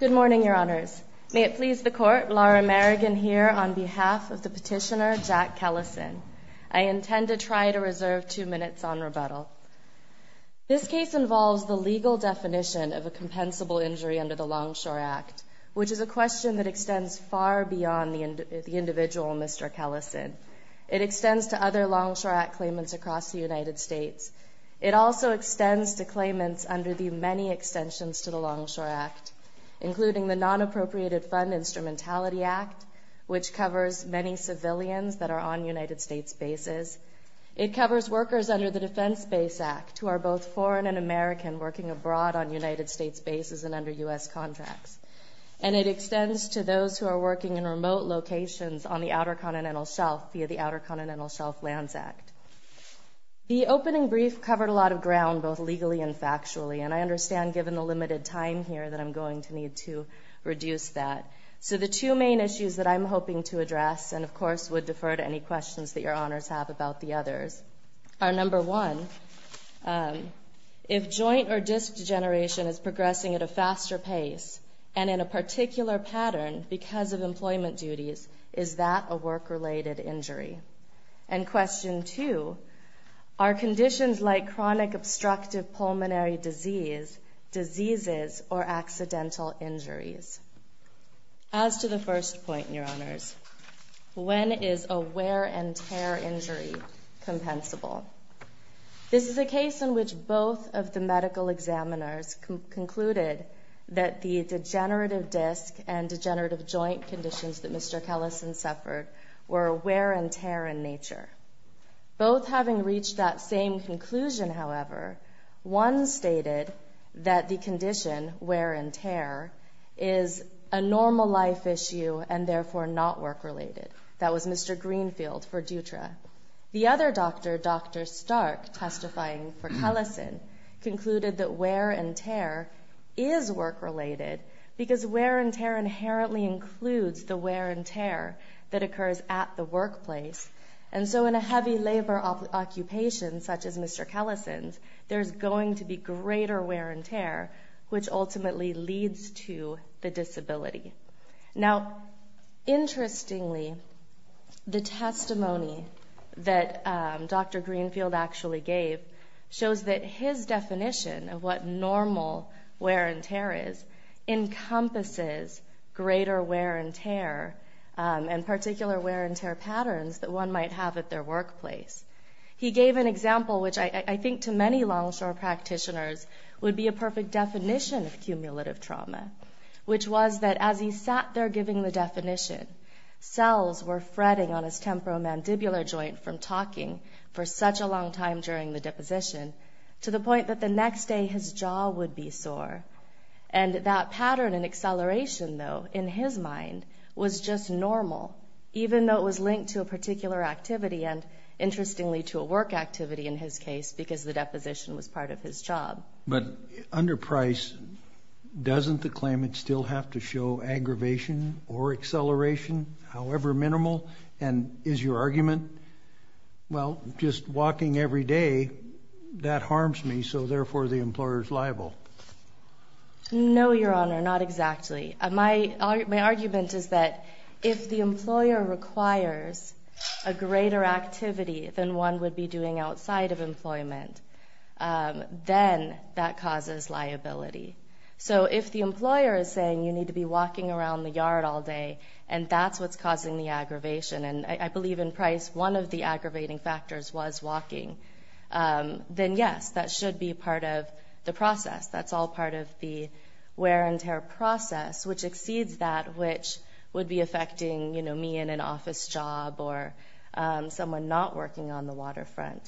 Good morning, Your Honors. May it please the Court, Laura Merrigan here on behalf of the petitioner Jack Kellison. I intend to try to reserve two minutes on rebuttal. This case involves the legal definition of a compensable injury under the Longshore Act, which is a question that extends far beyond the individual Mr. Kellison. It extends to other Longshore Act claimants across the United States. It also extends to claimants under the many extensions to Longshore Act, including the Non-Appropriated Fund Instrumentality Act, which covers many civilians that are on United States bases. It covers workers under the Defense Base Act who are both foreign and American working abroad on United States bases and under U.S. contracts. And it extends to those who are working in remote locations on the Outer Continental Shelf via the Outer Continental Shelf Lands Act. The opening brief covered a lot of ground both legally and factually, and I understand given the limited time here that I'm going to need to reduce that. So the two main issues that I'm hoping to address, and of course would defer to any questions that Your Honors have about the others, are number one, if joint or disc degeneration is progressing at a faster pace and in a particular pattern because of employment duties, is that a work-related injury? And question two, are conditions like chronic obstructive pulmonary disease, diseases, or accidental injuries? As to the first point, Your Honors, when is a wear and tear injury compensable? This is a case in which both of the medical examiners concluded that the degenerative disc and degenerative joint conditions that Mr. Kellison suffered were wear and tear in nature. Both having reached that same conclusion, however, one stated that the condition, wear and tear, is a normal life issue and therefore not work-related. That was Mr. Greenfield for Dutra. The other doctor, Dr. Stark, testifying for Kellison, concluded that wear and tear is work-related because wear and tear inherently includes the wear and tear that occurs at the workplace. And so in a heavy labor occupation, such as Mr. Kellison's, there's going to be greater wear and tear, which ultimately leads to the disability. Now, interestingly, the testimony that Dr. Greenfield actually gave shows that his definition of what greater wear and tear, and particular wear and tear patterns, that one might have at their workplace. He gave an example, which I think to many longshore practitioners would be a perfect definition of cumulative trauma, which was that as he sat there giving the definition, cells were fretting on his temporomandibular joint from talking for such a long time during the deposition to the point that the next day his jaw would be sore. And that pattern and in his mind was just normal, even though it was linked to a particular activity, and interestingly to a work activity in his case, because the deposition was part of his job. But under Price, doesn't the claimant still have to show aggravation or acceleration, however minimal? And is your argument, well, just walking every day, that harms me, so therefore the employer is liable? No, Your Honor, not exactly. My argument is that if the employer requires a greater activity than one would be doing outside of employment, then that causes liability. So if the employer is saying you need to be walking around the yard all day and that's what's causing the aggravation, and I believe in Price one of the aggravating factors was walking, then yes, that should be part of the process. That's all part of the wear and tear process, which exceeds that which would be affecting, you know, me in an office job or someone not working on the waterfront.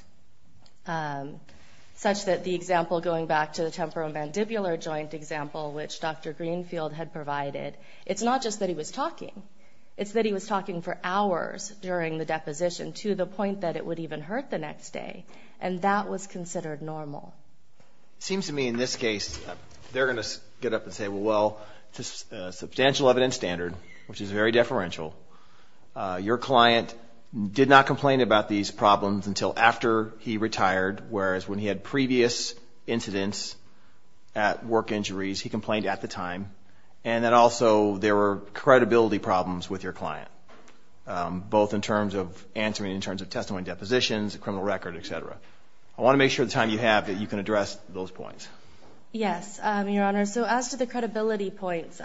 Such that the example going back to the temporomandibular joint example, which Dr. Greenfield had provided, it's not just that he was talking, it's that he was talking for hours during the deposition to the point that it would even hurt the next day. And that was considered normal. It seems to me in this case, they're going to get up and say, well, it's a substantial evidence standard, which is very deferential. Your client did not complain about these problems until after he retired, whereas when he had previous incidents at work injuries, he complained at the time. And that also there were credibility problems with your client, both in terms of answering in terms of testimony depositions, a criminal record, etc. I want to make sure the time you have that you can address those points. Yes, Your Honor. So as to the credibility points,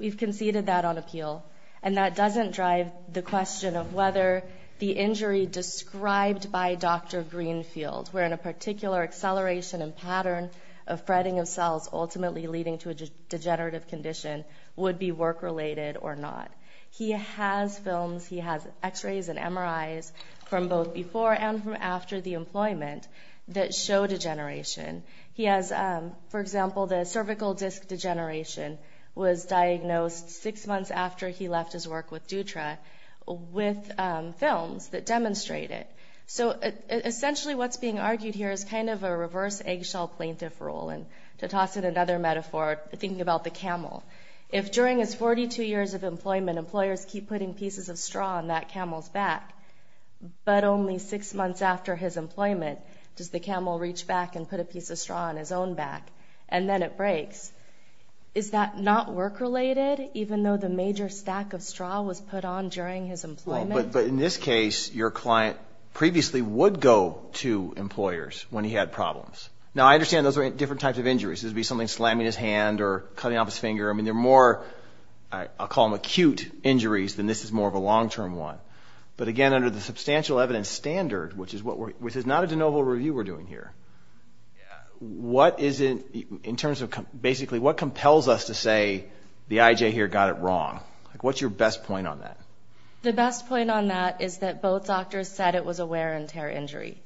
we've conceded that on appeal. And that doesn't drive the question of whether the injury described by Dr. Greenfield, wherein a particular acceleration and pattern of fretting of cells, ultimately leading to a degenerative condition, would be work related or not. He has films, he has x-rays and MRIs from both before and from after the employment that show degeneration. He has, for example, the cervical disc degeneration was diagnosed six months after he left his work with Dutra with films that demonstrate it. So essentially what's being argued here is kind of a reverse eggshell plaintiff rule. And to toss in another metaphor, thinking about the camel. If during his 42 years of employment, employers keep putting pieces of straw on that camel's back, but only six months after his employment, does the camel reach back and put a piece of straw on his own back? And then it breaks. Is that not work related, even though the major stack of straw was put on during his employment? But in this case, your client previously would go to employers when he had problems. Now I understand those are different types of injuries. It'd be something slamming his hand or cutting off his finger. I mean, they're more, I'll call them acute injuries, than this is more of a long-term one. But again, under the substantial evidence standard, which is not a de novo review we're doing here, what is it, in terms of basically what compels us to say the IJ here got it wrong? What's your best point on that? The best point on that is that both doctors said it was a wear and tear injury.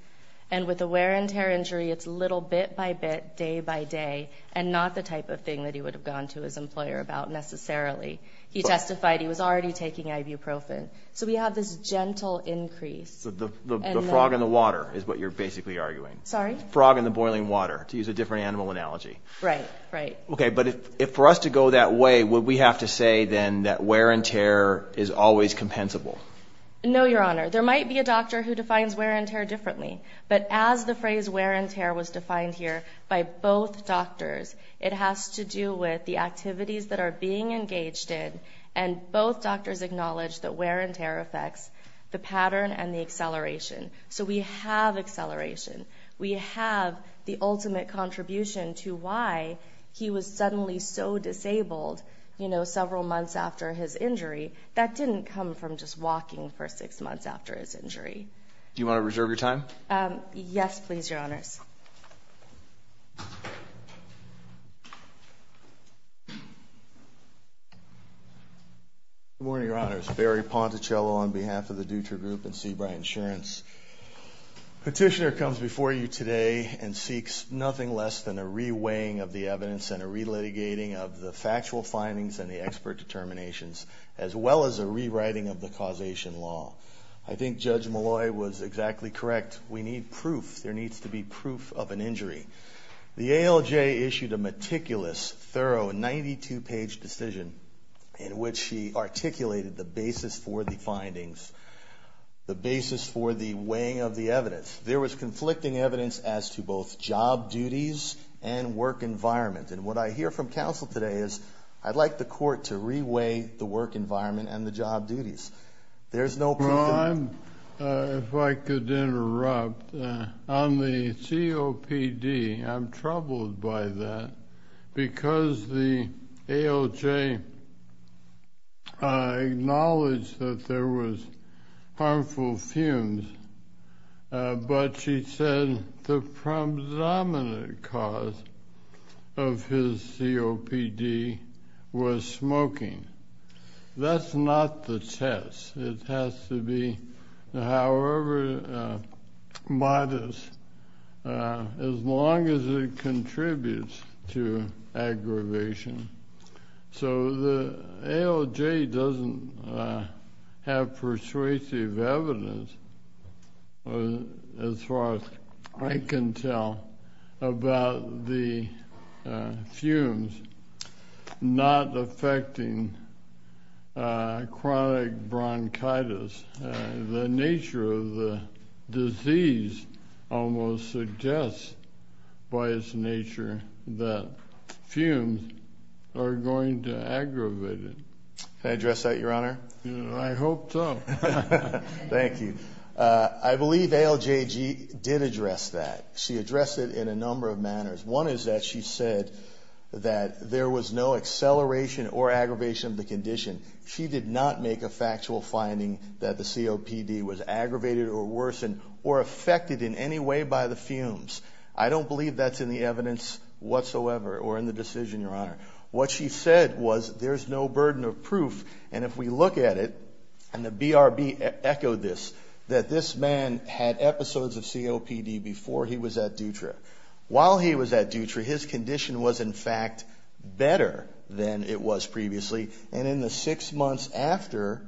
And with a wear and tear injury, it's little bit by bit, day by day, and not the type of thing that he would have gone to his employer about necessarily. He testified he was already taking ibuprofen. So we have this gentle increase. The frog in the water is what you're basically arguing. Sorry? Frog in the boiling water, to use a different animal analogy. Right, right. Okay, but if for us to go that way, would we have to say then that wear and tear is always compensable? No, your honor. There might be a doctor who defines wear and tear differently. But as the phrase wear and tear was defined here by both doctors, it has to do with the activities that are being engaged in. And both doctors acknowledge that wear and tear affects the pattern and the acceleration. So we have acceleration. We have the ultimate contribution to why he was suddenly so disabled, you know, several months after his injury. That didn't come from just walking for six months after his injury. Do you want to reserve your time? Yes, please, your honors. Good morning, your honors. Barry Ponticello on behalf of the Dutra Group and Seabright Insurance. Petitioner comes before you today and seeks nothing less than a re-weighing of the evidence and a re-litigating of the factual findings and the expert determinations, as well as a rewriting of the causation law. I think Judge Molloy was exactly correct. We need proof. There needs to be proof of an injury. The ALJ issued a meticulous, thorough, 92-page decision in which she articulated the basis for the findings, the basis for the weighing of the evidence. There was conflicting evidence as to both job duties and work environment. And what I hear from counsel today is, I'd like the court to re-weigh the work environment and the job duties. There's no proof of that. If I could interrupt. On the COPD, I'm troubled by that because the ALJ acknowledged that there was harmful fumes, but she said the predominant cause of his COPD was smoking. That's not the test. It has to be however modest, as long as it contributes to aggravation. So the ALJ doesn't have persuasive evidence, as far as I can tell, about the fumes not affecting chronic bronchitis. The nature of the disease almost suggests by its nature that fumes are going to aggravate it. Can I address that, Your Honor? I hope so. Thank you. I believe ALJ did address that. She addressed it in a number of manners. One is that she said that there was no acceleration or aggravation of the condition. She did not make a factual finding that the COPD was aggravated or worsened or affected in any way by the fumes. I don't believe that's in the evidence whatsoever or in the decision, Your Honor. What she said was there's no burden of proof, and if we look at it, and the BRB echoed this, that this man had episodes of COPD before he was at Dutra. While he was at Dutra, his condition was in fact better than it was previously, and in the six months after,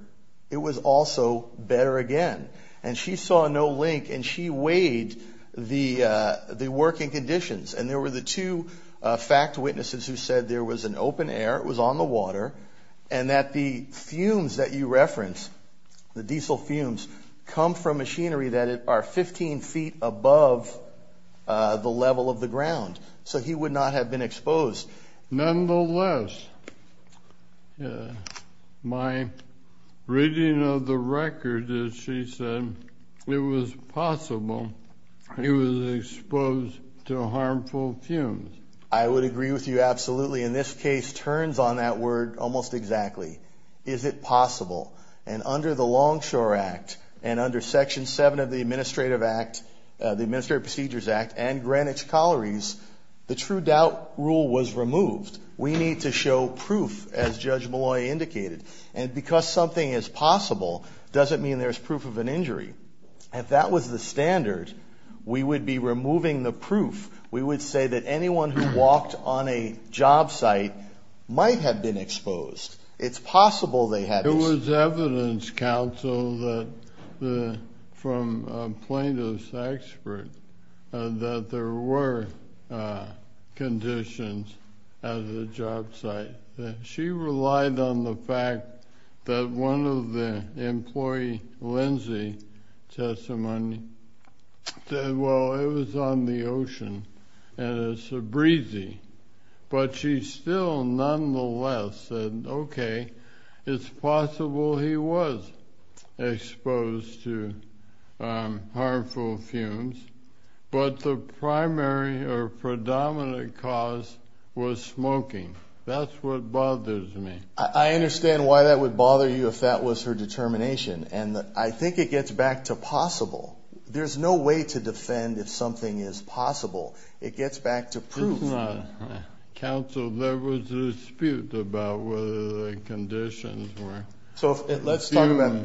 it was also better again. And she saw no link, and she weighed the working conditions. And there were the two fact that you reference, the diesel fumes, come from machinery that are 15 feet above the level of the ground, so he would not have been exposed. Nonetheless, my reading of the record, as she said, it was possible he was exposed to harmful fumes. I would agree with you absolutely. And this case turns on that word almost exactly. Is it possible? And under the Longshore Act, and under Section 7 of the Administrative Act, the Administrative Procedures Act, and Greenwich Collieries, the true doubt rule was removed. We need to show proof, as Judge Molloy indicated. And because something is possible, doesn't mean there's proof of an injury. If that was the standard, we would be removing the proof. We would say that anyone who It's possible they had issues. It was evidence, counsel, from a plaintiff's expert, that there were conditions at the job site. She relied on the fact that one of the employee, Lindsay, testimony said, well, it was on the ocean, and it's a breezy. But she still, nonetheless, said, okay, it's possible he was exposed to harmful fumes, but the primary or predominant cause was smoking. That's what bothers me. I understand why that would bother you if that was her determination, and I think it gets back to possible. There's no way to defend if something is possible. It gets back to proof. It's not, counsel, there was a dispute about whether the conditions were. So let's talk about,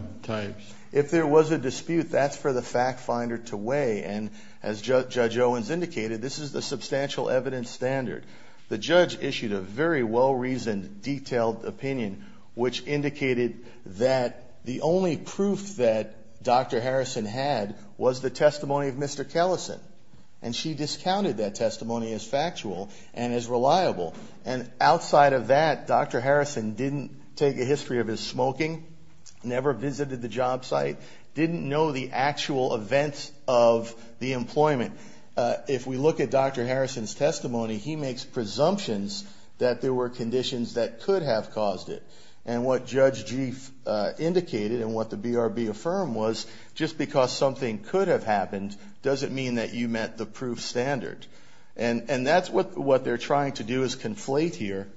if there was a dispute, that's for the fact finder to weigh, and as Judge Owens indicated, this is the substantial evidence standard. The judge issued a very well-reasoned, detailed opinion, which indicated that the only proof that Dr. Harrison had was the testimony of Mr. Kellesen. And she discounted that testimony as factual and as reliable. And outside of that, Dr. Harrison didn't take a history of his smoking, never visited the job site, didn't know the actual events of the employment. If we look at Dr. Harrison's testimony, he makes presumptions that there were conditions that could have caused it. And what Judge Gief indicated and what the BRB affirmed was, just because something could have happened doesn't mean that you met the proof standard. And that's what they're trying to do is conflate here.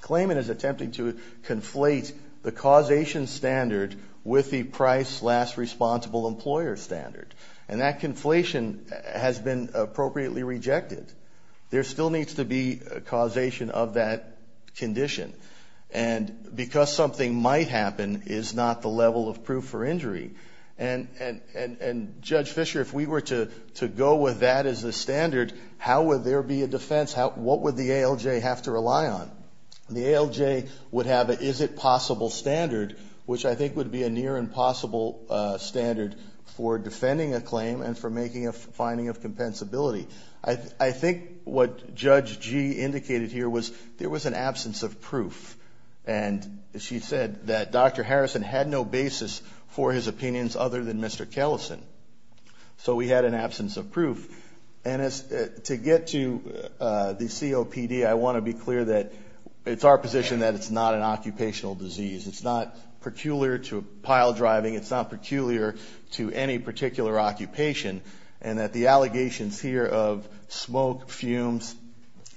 Claimant is attempting to conflate the causation standard with the price last responsible employer standard. And that conflation has been appropriately rejected. There still needs to be a causation of that condition. And because something might happen is not the level of proof for injury. And, Judge Fischer, if we were to go with that as the standard, how would there be a defense? What would the ALJ have to rely on? The ALJ would have an is-it-possible standard, which I think would be a near impossible standard for defending a claim and for making a finding of compensability. I think what Judge Gief indicated here was there was an absence of proof. And she said that Dr. Harrison had no basis for his opinions other than Mr. Kellison. And to get to the COPD, I want to be clear that it's our position that it's not an occupational disease. It's not peculiar to pile driving. It's not peculiar to any particular occupation. And that the allegations here of smoke, fumes,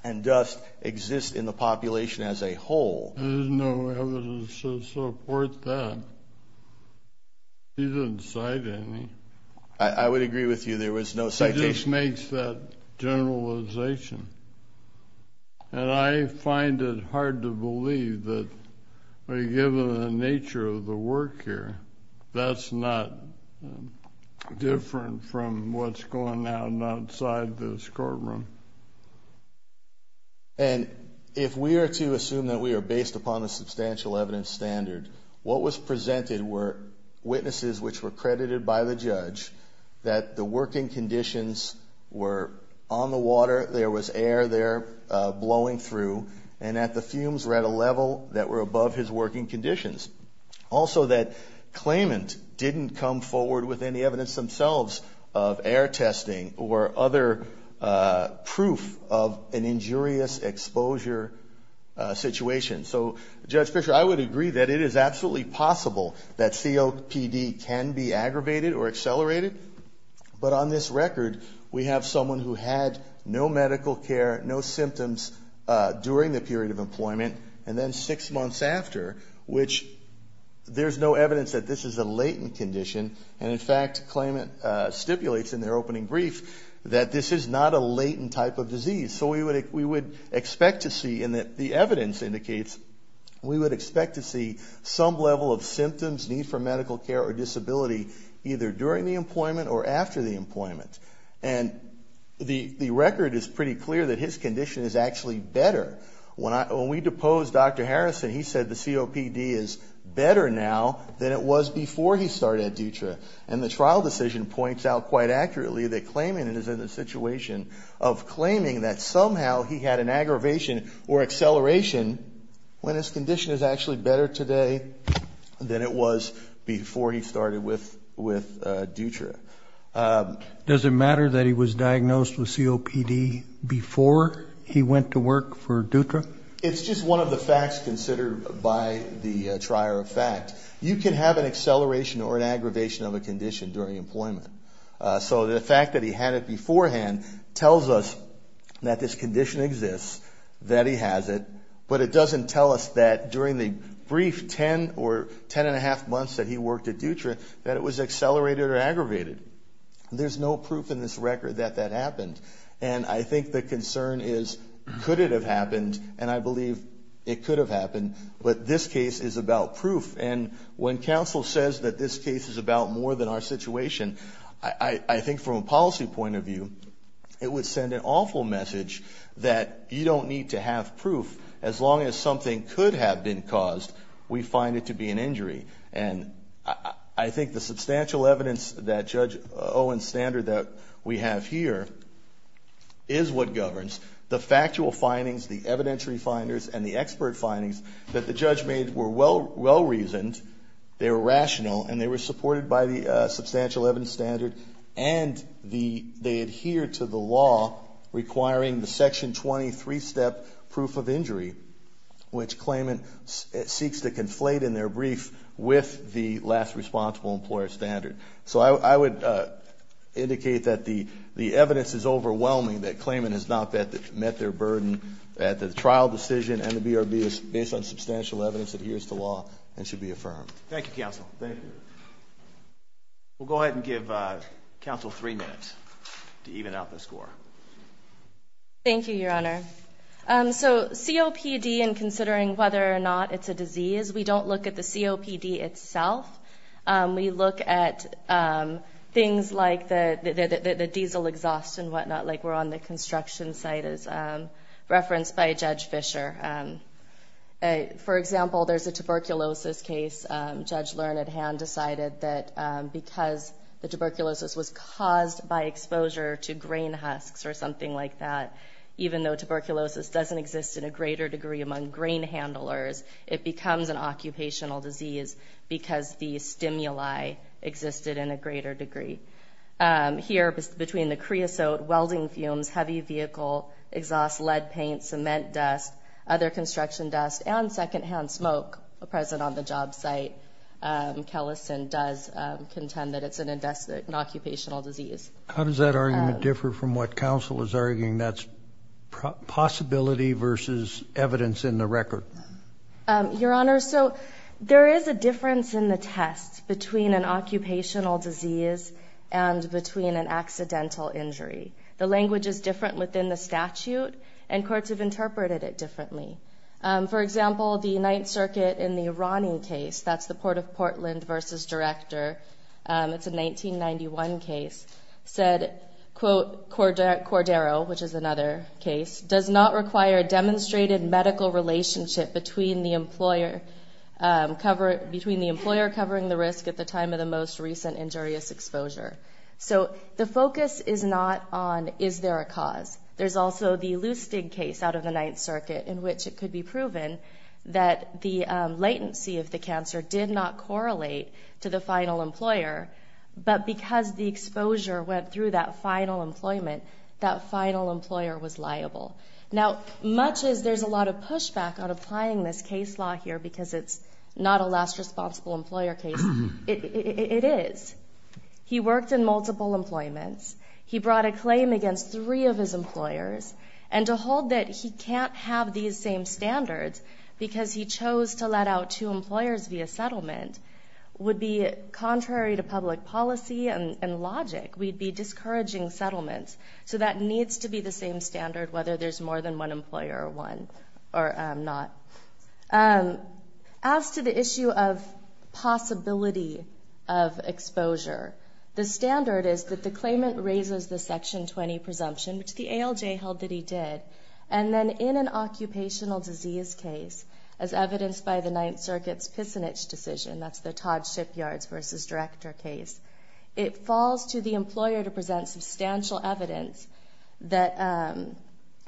and dust exist in the population as a whole. There's no evidence to support that. She didn't cite any. I would agree with you. There was no citation. She just makes that generalization. And I find it hard to believe that given the nature of the work here, that's not different from what's going on outside this courtroom. And if we are to assume that we are based upon a substantial evidence standard, what was presented were witnesses which were credited by the judge that the working conditions were on the water, there was air there blowing through, and that the fumes were at a level that were above his working conditions. Also, that claimant didn't come forward with any evidence themselves of air testing or other proof of an injurious exposure situation. So, Judge Fischer, I would agree that it is absolutely possible that COPD can be aggravated or accelerated. But on this record, we have someone who had no medical care, no symptoms during the period of employment, and then six months after, which there's no evidence that this is a latent condition. And, in fact, claimant stipulates in their opening brief that this is not a latent type of disease. So we would expect to see, and the evidence indicates, we would expect to see some level of symptoms, need for medical care, or disability either during the employment or after the employment. And the record is pretty clear that his condition is actually better. When we deposed Dr. Harrison, he said the COPD is better now than it was before he started at Dutra. And the trial decision points out quite accurately that claimant is in a situation of claiming that somehow he had an aggravation or acceleration when his condition is actually better today than it was before he started with Dutra. Does it matter that he was diagnosed with COPD before he went to work for Dutra? It's just one of the facts considered by the trier of fact. You can have an acceleration or an aggravation of a condition during employment. So the fact that he had it beforehand tells us that this condition exists, that he has it, but it doesn't tell us that during the brief ten or ten and a half months that he worked at Dutra, that it was accelerated or aggravated. There's no proof in this record that that happened. And I think the concern is could it have happened, and I believe it could have happened, but this case is about proof. And when counsel says that this case is about more than our situation, I think from a policy point of view, it would send an awful message that you don't need to have proof. As long as something could have been caused, we find it to be an injury. And I think the substantial evidence that Judge Owen's standard that we have here is what governs the factual findings, the evidentiary findings, and the expert findings that the judge made were well-reasoned, they were rational, and they were supported by the substantial evidence standard, and they adhere to the law requiring the Section 20 three-step proof of injury, which claimant seeks to conflate in their brief with the last responsible employer standard. So I would indicate that the evidence is overwhelming, that claimant has not met their burden, that the trial decision and the BRB is based on substantial evidence, adheres to law, and should be affirmed. Thank you, counsel. Thank you. We'll go ahead and give counsel three minutes to even out the score. Thank you, Your Honor. So COPD and considering whether or not it's a disease, we don't look at the COPD itself. We look at things like the diesel exhaust and whatnot like were on the construction site as referenced by Judge Fischer. For example, there's a tuberculosis case. Judge Learned Hand decided that because the tuberculosis was caused by exposure to grain husks or something like that, even though tuberculosis doesn't exist in a greater degree among grain handlers, it becomes an occupational disease because the stimuli existed in a greater degree. Here, between the creosote, welding fumes, heavy vehicle, exhaust lead paint, cement dust, other construction dust, and secondhand smoke present on the job site, Kellison does contend that it's an occupational disease. How does that argument differ from what counsel is arguing? That's possibility versus evidence in the record. Your Honor, so there is a difference in the test between an occupational disease and between an accidental injury. The language is different within the statute, and courts have interpreted it differently. For example, the Ninth Circuit in the Irani case, that's the Port of Portland v. Director, it's a 1991 case. Said, quote, Cordero, which is another case, does not require a demonstrated medical relationship between the employer covering the risk at the time of the most recent injurious exposure. So the focus is not on is there a cause. There's also the Lustig case out of the Ninth Circuit in which it could be proven that the latency of the cancer did not correlate to the final employer, but because the exposure went through that final employment, that final employer was liable. Now, much as there's a lot of pushback on applying this case law here because it's not a last responsible employer case, it is. He worked in multiple employments. He brought a claim against three of his employers. And to hold that he can't have these same standards because he chose to let out two employers via settlement would be contrary to public policy and logic. We'd be discouraging settlements. So that needs to be the same standard whether there's more than one employer or one or not. As to the issue of possibility of exposure, the standard is that the claimant raises the Section 20 presumption, which the ALJ held that he did, and then in an occupational disease case, as evidenced by the Ninth Circuit's Pissenich decision, that's the Todd Shipyards v. Director case, it falls to the employer to present substantial evidence that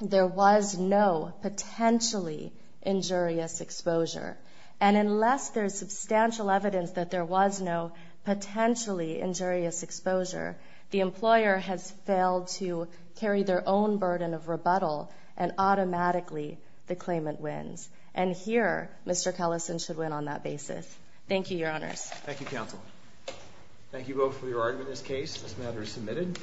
there was no potentially injurious exposure. And unless there's substantial evidence that there was no potentially injurious exposure, the employer has failed to carry their own burden of rebuttal, and automatically the claimant wins. And here, Mr. Kellison should win on that basis. Thank you, Your Honors. Thank you, Counsel. Thank you both for your argument in this case. This matter is submitted.